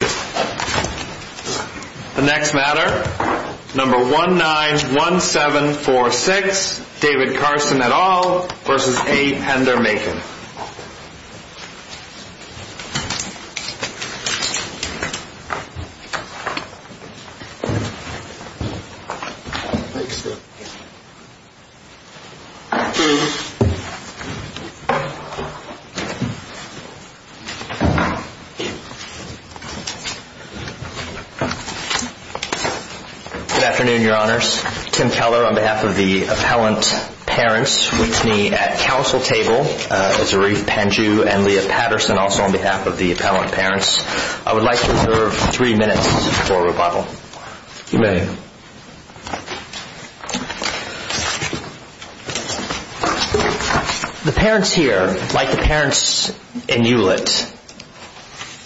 The next matter, number 191746, David Carson et al. v. A. Pender Makin Good afternoon, your honors. Tim Keller on behalf of the appellant parents meets me at council table. Zarif Pandju and Leah Patterson also on behalf of the appellant parents. I would like to reserve three minutes for rebuttal. You may. The parents here, like the parents in Hewlett,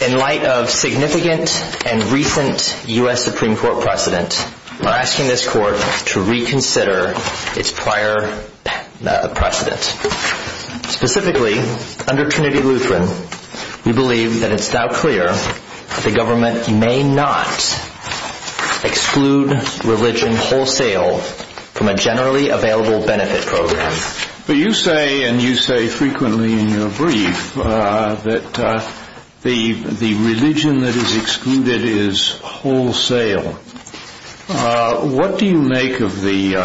in light of significant and recent U.S. Supreme Court precedent, are asking this court to reconsider its prior precedent. Specifically, under Trinity Lutheran, we believe that it is now clear that the government may not exclude religion wholesale from a generally available benefit program. You say, and you say frequently in your brief, that the religion that is excluded is wholesale. What do you make of the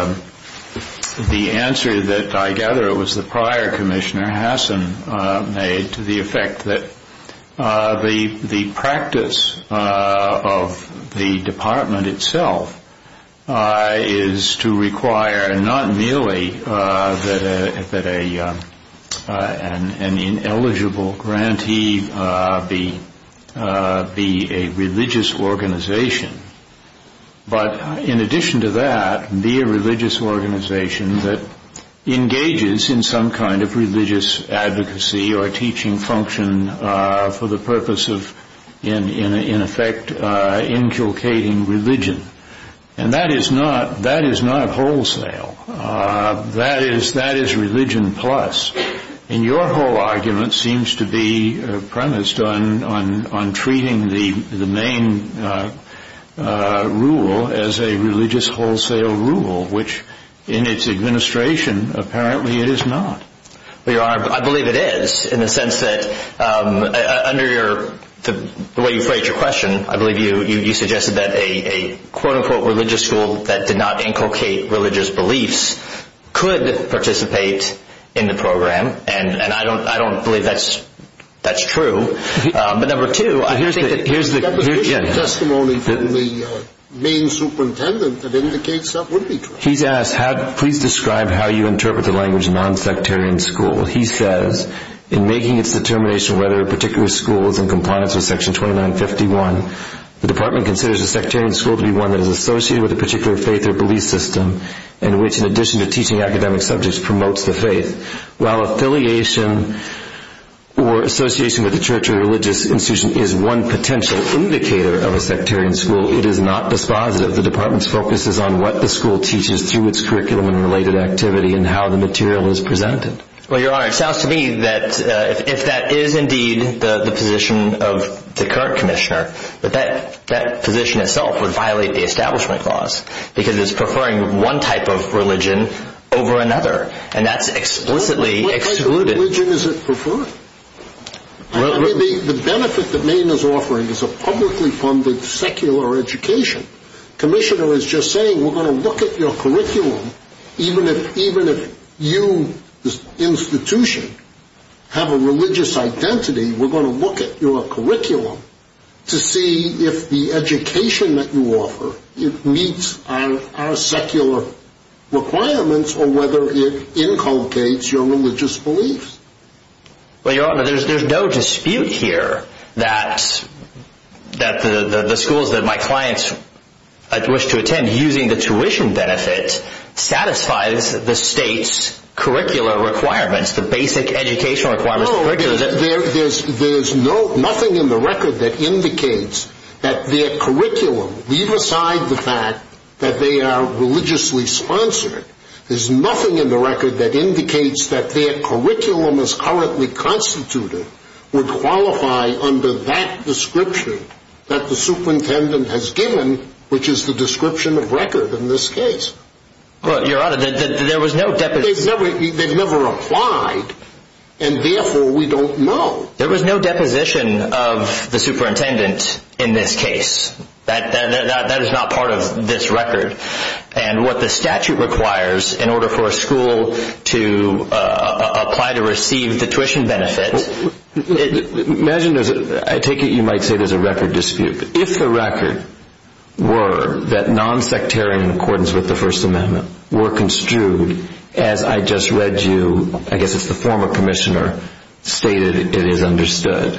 answer that I gather it was the prior commissioner, Hassan, made to the effect that the practice of the department itself is to require not merely that an ineligible grantee be a religious organization, but in addition to that, be a religious organization that engages in some kind of religious advocacy or teaching function for the purpose of, in effect, inculcating religion. And that is not wholesale. That is religion plus. And your whole argument seems to be premised on treating the main rule as a religious wholesale rule, which in its administration, apparently it is not. I believe it is, in the sense that, under the way you phrased your question, I believe you suggested that a quote-unquote religious school that did not inculcate religious beliefs could participate in the program. And I don't believe that's true. But here's the testimony from the main superintendent that indicates that would be true. Please describe how you interpret the language non-sectarian school. He says, in making its determination whether a particular school is in compliance with section 2951, the department considers a sectarian school to be one that is associated with a particular faith or belief system in which, in addition to teaching academic subjects, promotes the faith, while affiliation or association with a church or religious institution is one potential indicator of a sectarian school. It is not dispositive. The department's focus is on what the school teaches through its curriculum and related activity and how the material is presented. Well, Your Honor, it sounds to me that if that is indeed the position of the current commissioner, that that position itself would violate the establishment clause, because it is preferring one type of religion over another. And that's explicitly excluded. Which religion is it preferring? The benefit that Maine is offering is a publicly funded secular education. The commissioner is just saying, we're going to look at your curriculum, even if you, the institution, have a religious identity, we're going to look at your curriculum to see if the education that you offer meets our secular requirements or whether it inculcates your religious beliefs. Well, Your Honor, there's no dispute here that the schools that my clients wish to attend, using the tuition benefit, satisfies the state's curricular requirements, the basic educational requirements. There's nothing in the record that indicates that their curriculum, leave aside the fact that they are religiously sponsored, there's nothing that indicates that their curriculum as currently constituted would qualify under that description that the superintendent has given, which is the description of record in this case. Well, Your Honor, there was no deposition. They've never applied, and therefore we don't know. There was no deposition of the superintendent in this case. That is not part of this record, and what the statute requires in order for a school to apply to receive the tuition benefit. Imagine, I take it you might say there's a record dispute. If the record were that non-sectarian accordance with the First Amendment were construed as I just read you, I guess it's the former commissioner, stated it is understood,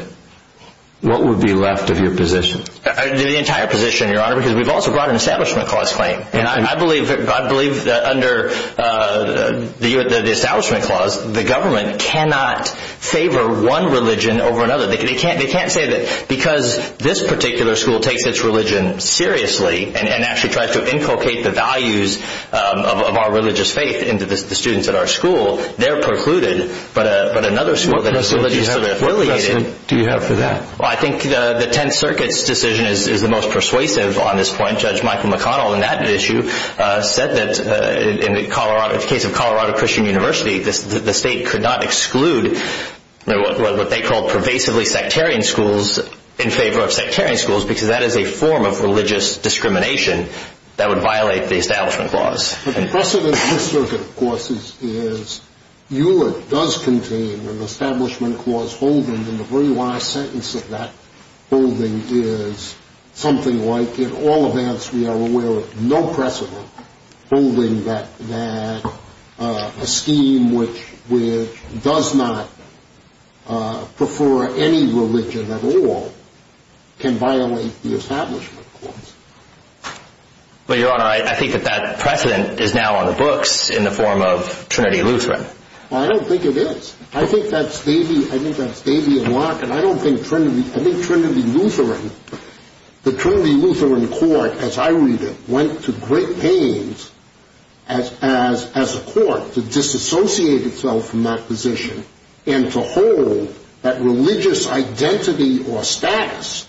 what would be left of your position? The entire position, Your Honor, because we've also brought an Establishment Clause claim, and I believe that under the Establishment Clause, the government cannot favor one religion over another. They can't say that because this particular school takes its religion seriously and actually tries to inculcate the values of our religious faith into the students at our school, they're precluded, but another school that is religiously affiliated What precedent do you have for that? I think the Tenth Circuit's decision is the most persuasive on this point. Judge Michael McConnell in that issue said that in the case of Colorado Christian University, the state could not exclude what they called pervasively sectarian schools in favor of sectarian schools because that is a form of religious discrimination that would violate the Establishment Clause. The precedent in this circuit, of course, is Hewlett does contain an Establishment Clause holding, and the very last sentence of that holding is something like, in all events, we are aware of no precedent holding that a scheme which does not prefer any religion at all can violate the Establishment Clause. But, Your Honor, I think that precedent is now on the books in the form of Trinity Lutheran. Well, I don't think it is. I think that's maybe a block, and I don't think Trinity Lutheran, the Trinity Lutheran court, as I read it, went to great pains as a court to disassociate itself from that position and to hold that religious identity or status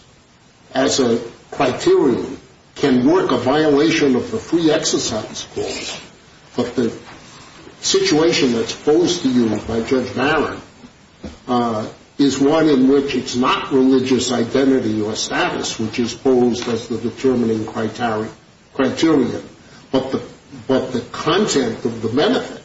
as a criterion can work a violation of the Free Exercise Clause, but the situation that's posed to you by Judge Barron is one in which it's not religious identity or status which is posed as the determining criterion, but the content of the benefit.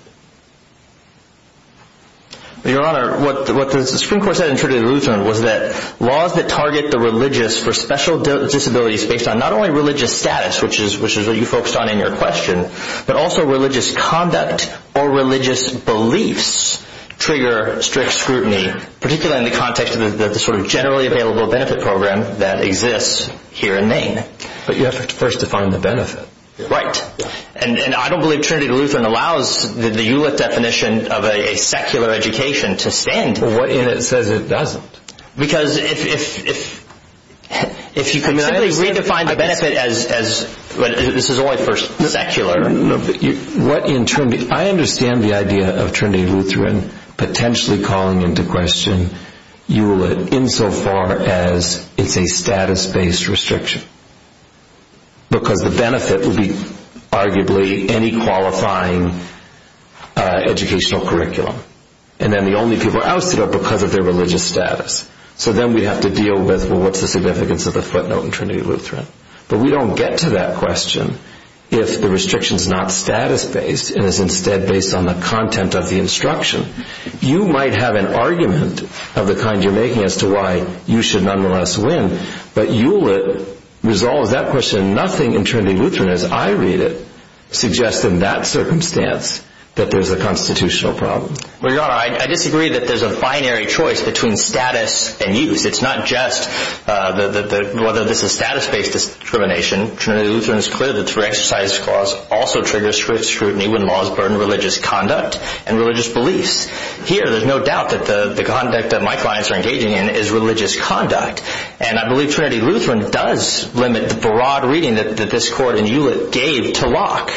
Your Honor, what the Supreme Court said in Trinity Lutheran was that laws that target the religious for special disabilities based on not only religious status, which is what you focused on in your question, but also religious conduct or religious beliefs trigger strict scrutiny, particularly in the context of the sort of generally available benefit program that exists here in Maine. But you have to first define the benefit. Right, and I don't believe Trinity Lutheran allows the ULIT definition of a secular education to stand. Well, what if it says it doesn't? Because if you can simply redefine the benefit as, this is only for secular. I understand the idea of Trinity Lutheran potentially calling into question ULIT insofar as it's a status-based restriction, because the benefit would be arguably any qualifying educational curriculum. And then the only people ousted are because of their religious status. So then we'd have to deal with, well, what's the significance of the footnote in Trinity Lutheran? But we don't get to that question if the restriction's not status-based and is instead based on the content of the instruction. You might have an argument of the kind you're making as to why you should nonetheless win, but ULIT resolves that question. And nothing in Trinity Lutheran, as I read it, suggests in that circumstance that there's a constitutional problem. Well, Your Honor, I disagree that there's a binary choice between status and use. It's not just whether this is status-based discrimination. Trinity Lutheran is clear that through exercise of cause also triggers scrutiny when laws burden religious conduct and religious beliefs. Here, there's no doubt that the conduct that my clients are engaging in is religious conduct. And I believe Trinity Lutheran does limit the broad reading that this Court and ULIT gave to Locke.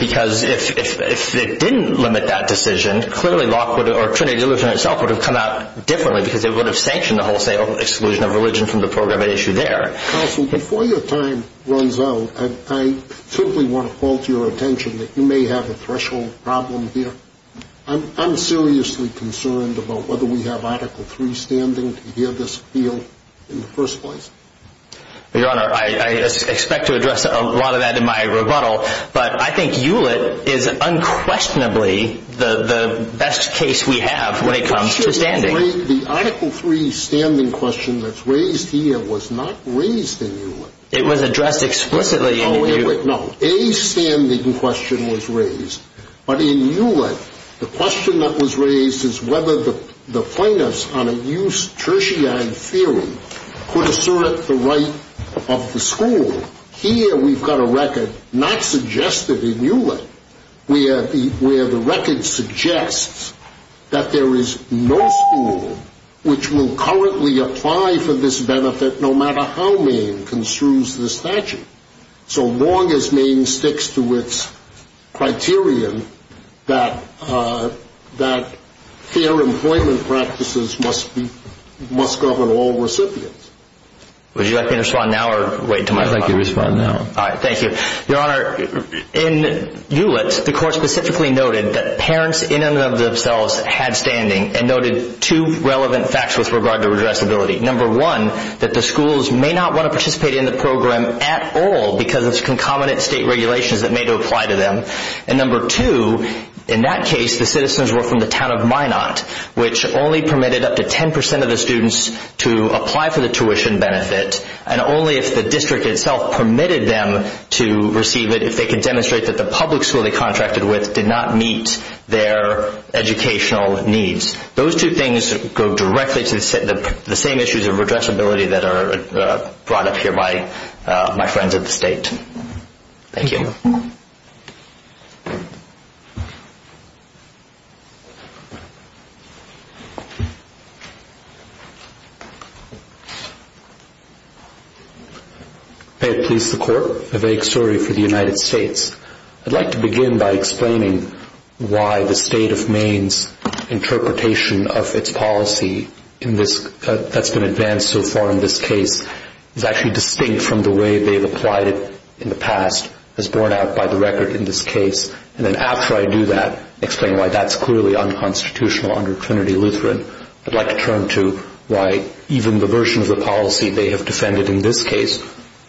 Because if it didn't limit that decision, clearly Locke or Trinity Lutheran itself would have come out differently because it would have sanctioned the wholesale exclusion of religion from the program at issue there. Counsel, before your time runs out, I simply want to call to your attention that you may have a threshold problem here. I'm seriously concerned about whether we have Article III standing to hear this appeal in the first place. Your Honor, I expect to address a lot of that in my rebuttal, but I think ULIT is unquestionably the best case we have when it comes to standing. The Article III standing question that's raised here was not raised in ULIT. It was addressed explicitly in ULIT. No, a standing question was raised. But in ULIT, the question that was raised is whether the plaintiffs on a use tertiary theory could assert the right of the school. Here, we've got a record not suggested in ULIT where the record suggests that there is no school which will currently apply for this benefit no matter how Maine construes the statute. So long as Maine sticks to its criterion that fair employment practices must govern all recipients. Would you like me to respond now or wait until my time? I'd like you to respond now. All right, thank you. Your Honor, in ULIT, the Court specifically noted that parents in and of themselves had standing and noted two relevant facts with regard to redressability. Number one, that the schools may not want to participate in the program at all because of concomitant state regulations that may apply to them. And number two, in that case, the citizens were from the town of Minot, which only permitted up to 10% of the students to apply for the tuition benefit, and only if the district itself permitted them to receive it if they could demonstrate that the public school they contracted with did not meet their educational needs. Those two things go directly to the same issues of redressability that are brought up here by my friends at the State. Thank you. Peter Police, the Court. A vague story for the United States. I'd like to begin by explaining why the State of Maine's interpretation of its policy that's been advanced so far in this case is actually distinct from the way they've applied it in the past as borne out by the record in this case. And then after I do that, explain why that's clearly unconstitutional under Trinity Lutheran, I'd like to turn to why even the version of the policy they have defended in this case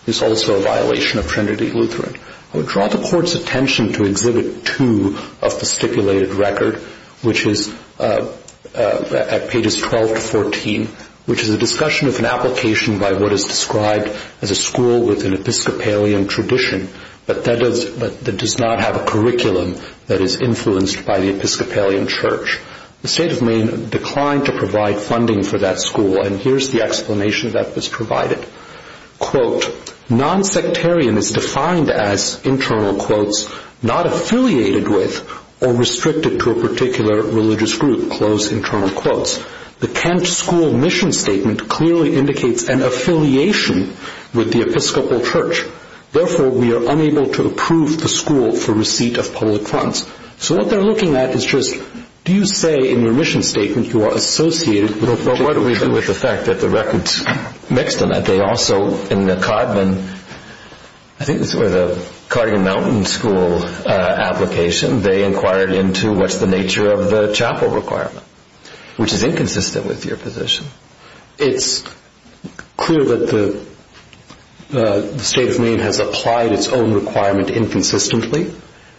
is also a violation of Trinity Lutheran. I would draw the Court's attention to Exhibit 2 of the stipulated record, which is at pages 12 to 14, which is a discussion of an application by what is described as a school with an Episcopalian tradition, but that does not have a curriculum that is influenced by the Episcopalian church. The State of Maine declined to provide funding for that school, and here's the explanation that was provided. Quote, nonsectarian is defined as, internal quotes, not affiliated with or restricted to a particular religious group, close internal quotes. The Kent school mission statement clearly indicates an affiliation with the Episcopal church. Therefore, we are unable to approve the school for receipt of public funds. So what they're looking at is just, do you say in your mission statement you are associated Well, what do we do with the fact that the records mix them up? They also, in the Codman, I think this was a Codman Mountain School application, they inquired into what's the nature of the chapel requirement, which is inconsistent with your position. It's clear that the State of Maine has applied its own requirement inconsistently,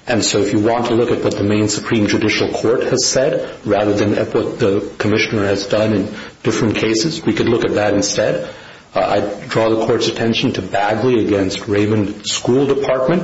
and so if you want to look at what the Maine Supreme Judicial Court has said rather than at what the Commissioner has done in different cases, we could look at that instead. I draw the Court's attention to Bagley against Raven School Department.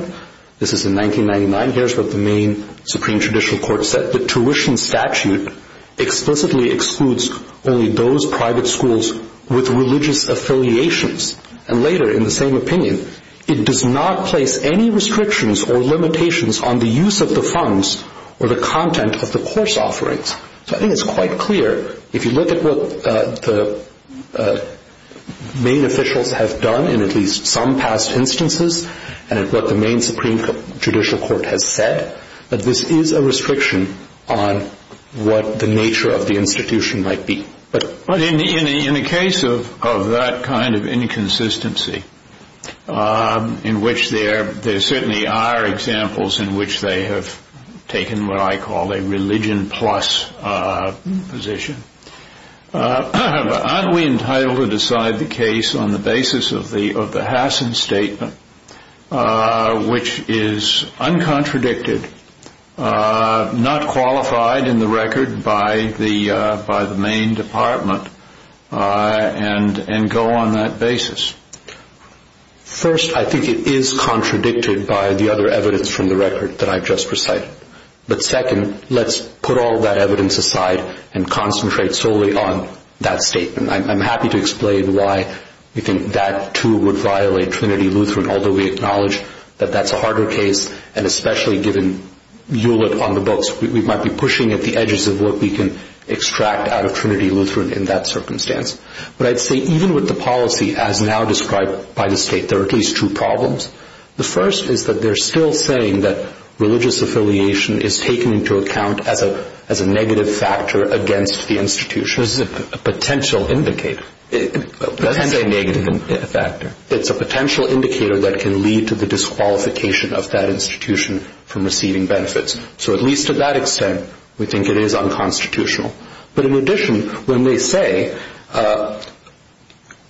This is in 1999. Here's what the Maine Supreme Judicial Court said. The tuition statute explicitly excludes only those private schools with religious affiliations. And later, in the same opinion, it does not place any restrictions or limitations on the use of the funds or the content of the course offerings. So I think it's quite clear, if you look at what the Maine officials have done in at least some past instances, and at what the Maine Supreme Judicial Court has said, that this is a restriction on what the nature of the institution might be. But in the case of that kind of inconsistency, in which there certainly are examples in which they have taken what I call a religion-plus position, aren't we entitled to decide the case on the basis of the Hassen Statement, which is uncontradicted, not qualified in the record by the Maine Department, and go on that basis? First, I think it is contradicted by the other evidence from the record that I've just recited. But second, let's put all that evidence aside and concentrate solely on that statement. I'm happy to explain why we think that, too, would violate Trinity Lutheran, although we acknowledge that that's a harder case, and especially given Hewlett on the books. We might be pushing at the edges of what we can extract out of Trinity Lutheran in that circumstance. But I'd say even with the policy as now described by the state, there are at least two problems. The first is that they're still saying that religious affiliation is taken into account as a negative factor against the institution. This is a potential indicator. It's a potential indicator that can lead to the disqualification of that institution from receiving benefits. So at least to that extent, we think it is unconstitutional. But in addition, when they say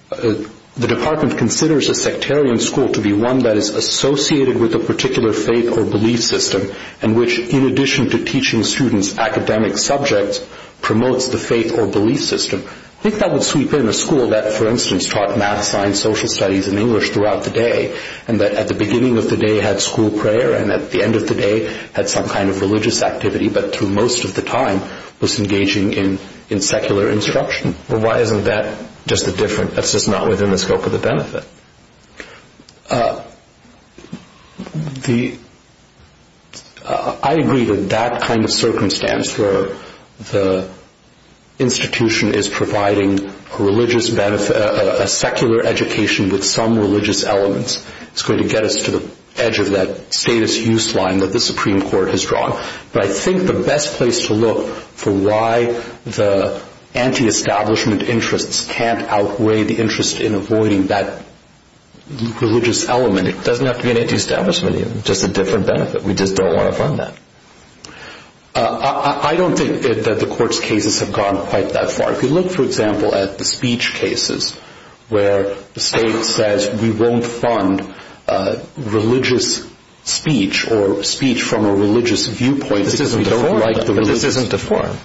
the department considers a sectarian school to be one that is associated with a particular faith or belief system, and which, in addition to teaching students academic subjects, promotes the faith or belief system, I think that would sweep in a school that, for instance, taught math, science, social studies, and English throughout the day, and that at the beginning of the day had school prayer, and at the end of the day had some kind of religious activity, but through most of the time was engaging in secular instruction. Well, why isn't that just not within the scope of the benefit? I agree that that kind of circumstance where the institution is providing a secular education with some religious elements is going to get us to the edge of that status use line that the Supreme Court has drawn. But I think the best place to look for why the antiestablishment interests can't outweigh the interest in avoiding that religious element, it doesn't have to be an antiestablishment. It's just a different benefit. We just don't want to fund that. I don't think that the court's cases have gone quite that far. If you look, for example, at the speech cases where the state says, we won't fund religious speech or speech from a religious viewpoint because we don't like the religion. This isn't deformed.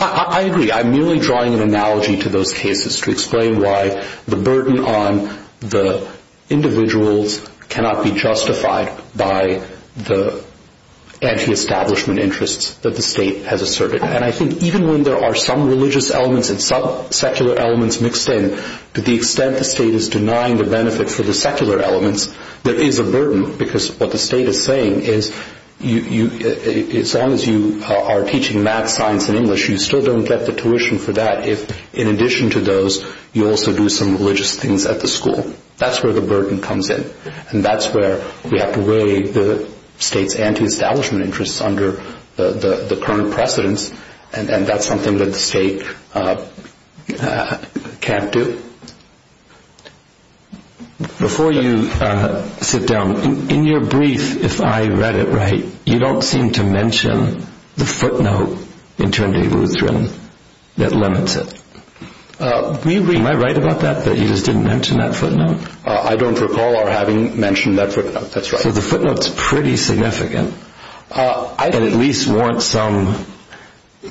I agree. I'm merely drawing an analogy to those cases to explain why the burden on the individuals cannot be justified by the antiestablishment interests that the state has asserted. I think even when there are some religious elements and some secular elements mixed in, to the extent the state is denying the benefit for the secular elements, there is a burden because what the state is saying is, as long as you are teaching math, science, and English, you still don't get the tuition for that if, in addition to those, you also do some religious things at the school. That's where the burden comes in. That's where we have to weigh the state's antiestablishment interests under the current precedents, and that's something that the state can't do. Before you sit down, in your brief, if I read it right, you don't seem to mention the footnote in Trinity Lutheran that limits it. Am I right about that, that you just didn't mention that footnote? I don't recall our having mentioned that footnote. That's right. So the footnote's pretty significant. I at least want some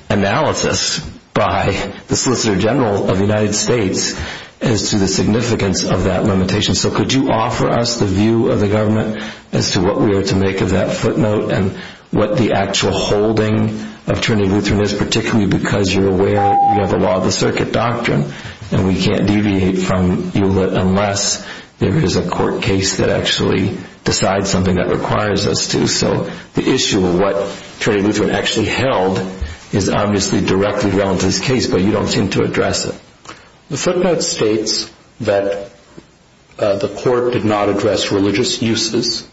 analysis by the Solicitor General of the United States as to the significance of that limitation. So could you offer us the view of the government as to what we are to make of that footnote and what the actual holding of Trinity Lutheran is, particularly because you're aware of the law of the circuit doctrine, and we can't deviate from it unless there is a court case that actually decides something that requires us to. So the issue of what Trinity Lutheran actually held is obviously directly relevant to this case, but you don't seem to address it. The footnote states that the court did not address religious uses,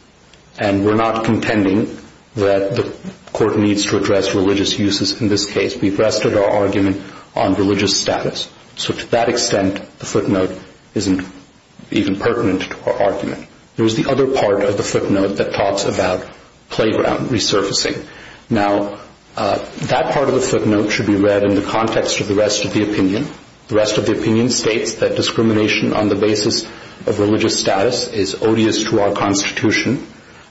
and we're not contending that the court needs to address religious uses in this case. We've rested our argument on religious status. So to that extent, the footnote isn't even pertinent to our argument. There is the other part of the footnote that talks about playground resurfacing. Now, that part of the footnote should be read in the context of the rest of the opinion. The rest of the opinion states that discrimination on the basis of religious status is odious to our Constitution.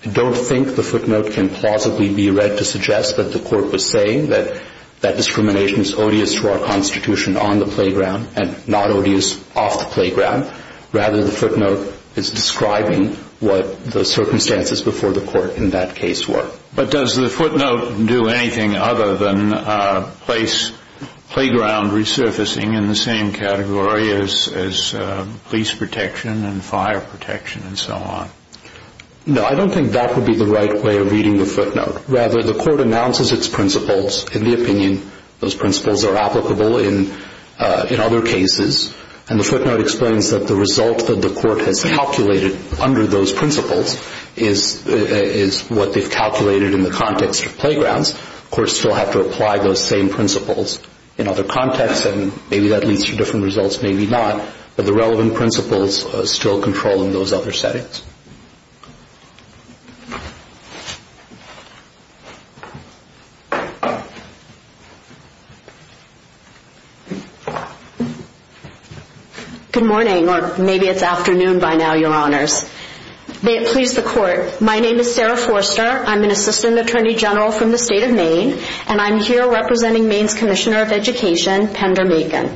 I don't think the footnote can plausibly be read to suggest that the court was saying that that discrimination is odious to our Constitution on the playground and not odious off the playground. Rather, the footnote is describing what the circumstances before the court in that case were. But does the footnote do anything other than place playground resurfacing in the same category as police protection and fire protection and so on? No, I don't think that would be the right way of reading the footnote. Rather, the court announces its principles in the opinion. Those principles are applicable in other cases, and the footnote explains that the result that the court has calculated under those principles is what they've calculated in the context of playgrounds. The courts still have to apply those same principles in other contexts, and maybe that leads to different results, maybe not. But the relevant principles still control in those other settings. Good morning, or maybe it's afternoon by now, Your Honors. May it please the Court, my name is Sarah Forster. I'm an Assistant Attorney General from the State of Maine, and I'm here representing Maine's Commissioner of Education, Pender Makin.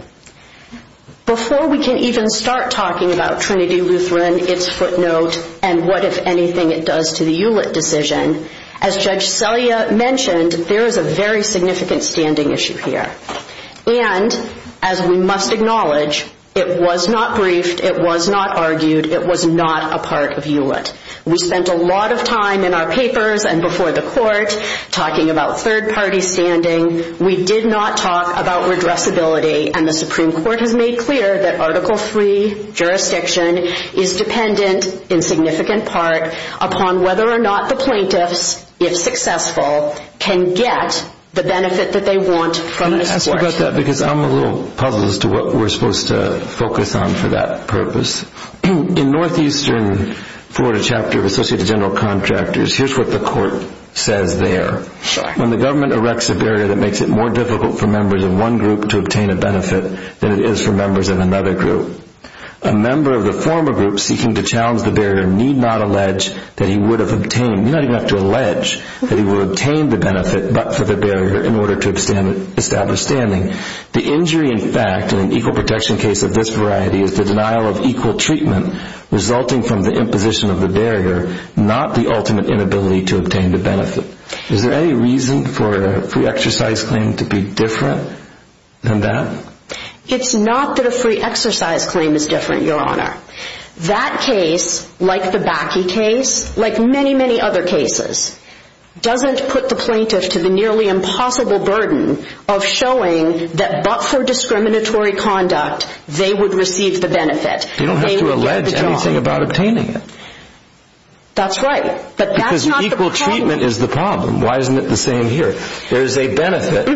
Before we can even start talking about Trinity Lutheran, its footnote, and what, if anything, it does to the ULIT decision, as Judge Selya mentioned, there is a very significant standing issue here. And, as we must acknowledge, it was not briefed, it was not argued, it was not a part of ULIT. We spent a lot of time in our papers and before the court talking about third-party standing. We did not talk about redressability, and the Supreme Court has made clear that Article III jurisdiction is dependent, in significant part, upon whether or not the plaintiffs, if successful, can get the benefit that they want from the Supreme Court. Let me ask you about that, because I'm a little puzzled as to what we're supposed to focus on for that purpose. In Northeastern Florida Chapter of Associated General Contractors, here's what the court says there. When the government erects a barrier that makes it more difficult for members of one group to obtain a benefit than it is for members of another group, a member of the former group seeking to challenge the barrier need not allege that he would have obtained, not even have to allege, that he would have obtained the benefit, but for the barrier in order to establish standing. The injury, in fact, in an equal protection case of this variety is the denial of equal treatment resulting from the imposition of the barrier, not the ultimate inability to obtain the benefit. Is there any reason for a free exercise claim to be different than that? It's not that a free exercise claim is different, Your Honor. That case, like the Bakke case, like many, many other cases, doesn't put the plaintiff to the nearly impossible burden of showing that but for discriminatory conduct they would receive the benefit. They don't have to allege anything about obtaining it. That's right, but that's not the problem. Because equal treatment is the problem. Why isn't it the same here? There is a benefit.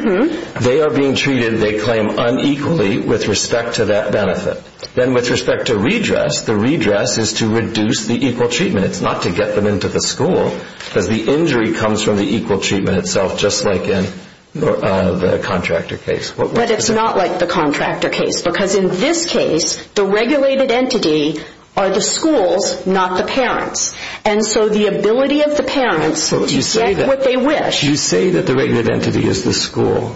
They are being treated, they claim, unequally with respect to that benefit. Then with respect to redress, the redress is to reduce the equal treatment. It's not to get them into the school, because the injury comes from the equal treatment itself, just like in the contractor case. But it's not like the contractor case, because in this case, the regulated entity are the schools, not the parents. And so the ability of the parents to get what they wish... You say that the regulated entity is the school,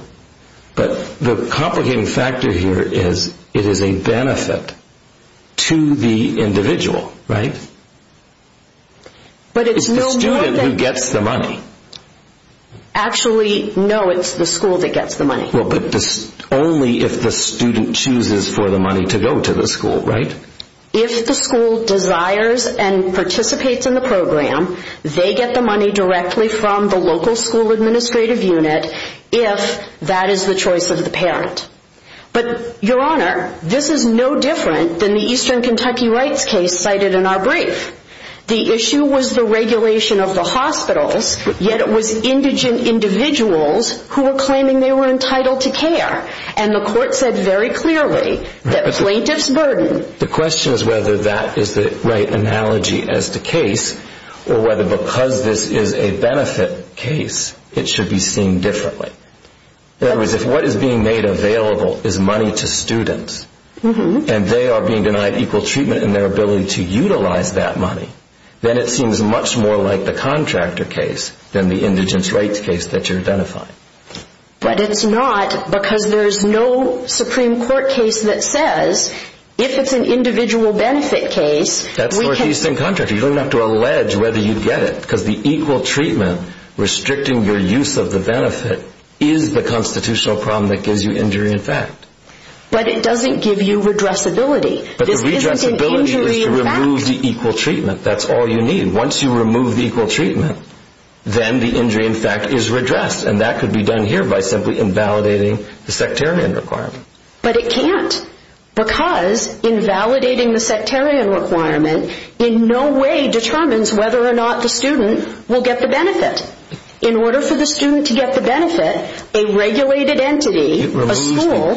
but the complicating factor here is it is a benefit to the individual, right? But it's no more than... It's the student who gets the money. Actually, no, it's the school that gets the money. Well, but only if the student chooses for the money to go to the school, right? If the school desires and participates in the program, they get the money directly from the local school administrative unit, if that is the choice of the parent. But, Your Honor, this is no different than the Eastern Kentucky Rights case cited in our brief. The issue was the regulation of the hospitals, yet it was indigent individuals who were claiming they were entitled to care. And the court said very clearly that plaintiff's burden... The question is whether that is the right analogy as to case, or whether because this is a benefit case, it should be seen differently. In other words, if what is being made available is money to students, and they are being denied equal treatment in their ability to utilize that money, then it seems much more like the contractor case than the indigent's rights case that you're identifying. But it's not because there's no Supreme Court case that says, if it's an individual benefit case, we can... That's where it is in contract. You don't have to allege whether you get it, because the equal treatment restricting your use of the benefit is the constitutional problem that gives you injury in fact. But it doesn't give you redressability. But the redressability is to remove the equal treatment. That's all you need. Once you remove the equal treatment, then the injury in fact is redressed. And that could be done here by simply invalidating the sectarian requirement. But it can't, because invalidating the sectarian requirement in no way determines whether or not the student will get the benefit. In order for the student to get the benefit, a regulated entity, a school...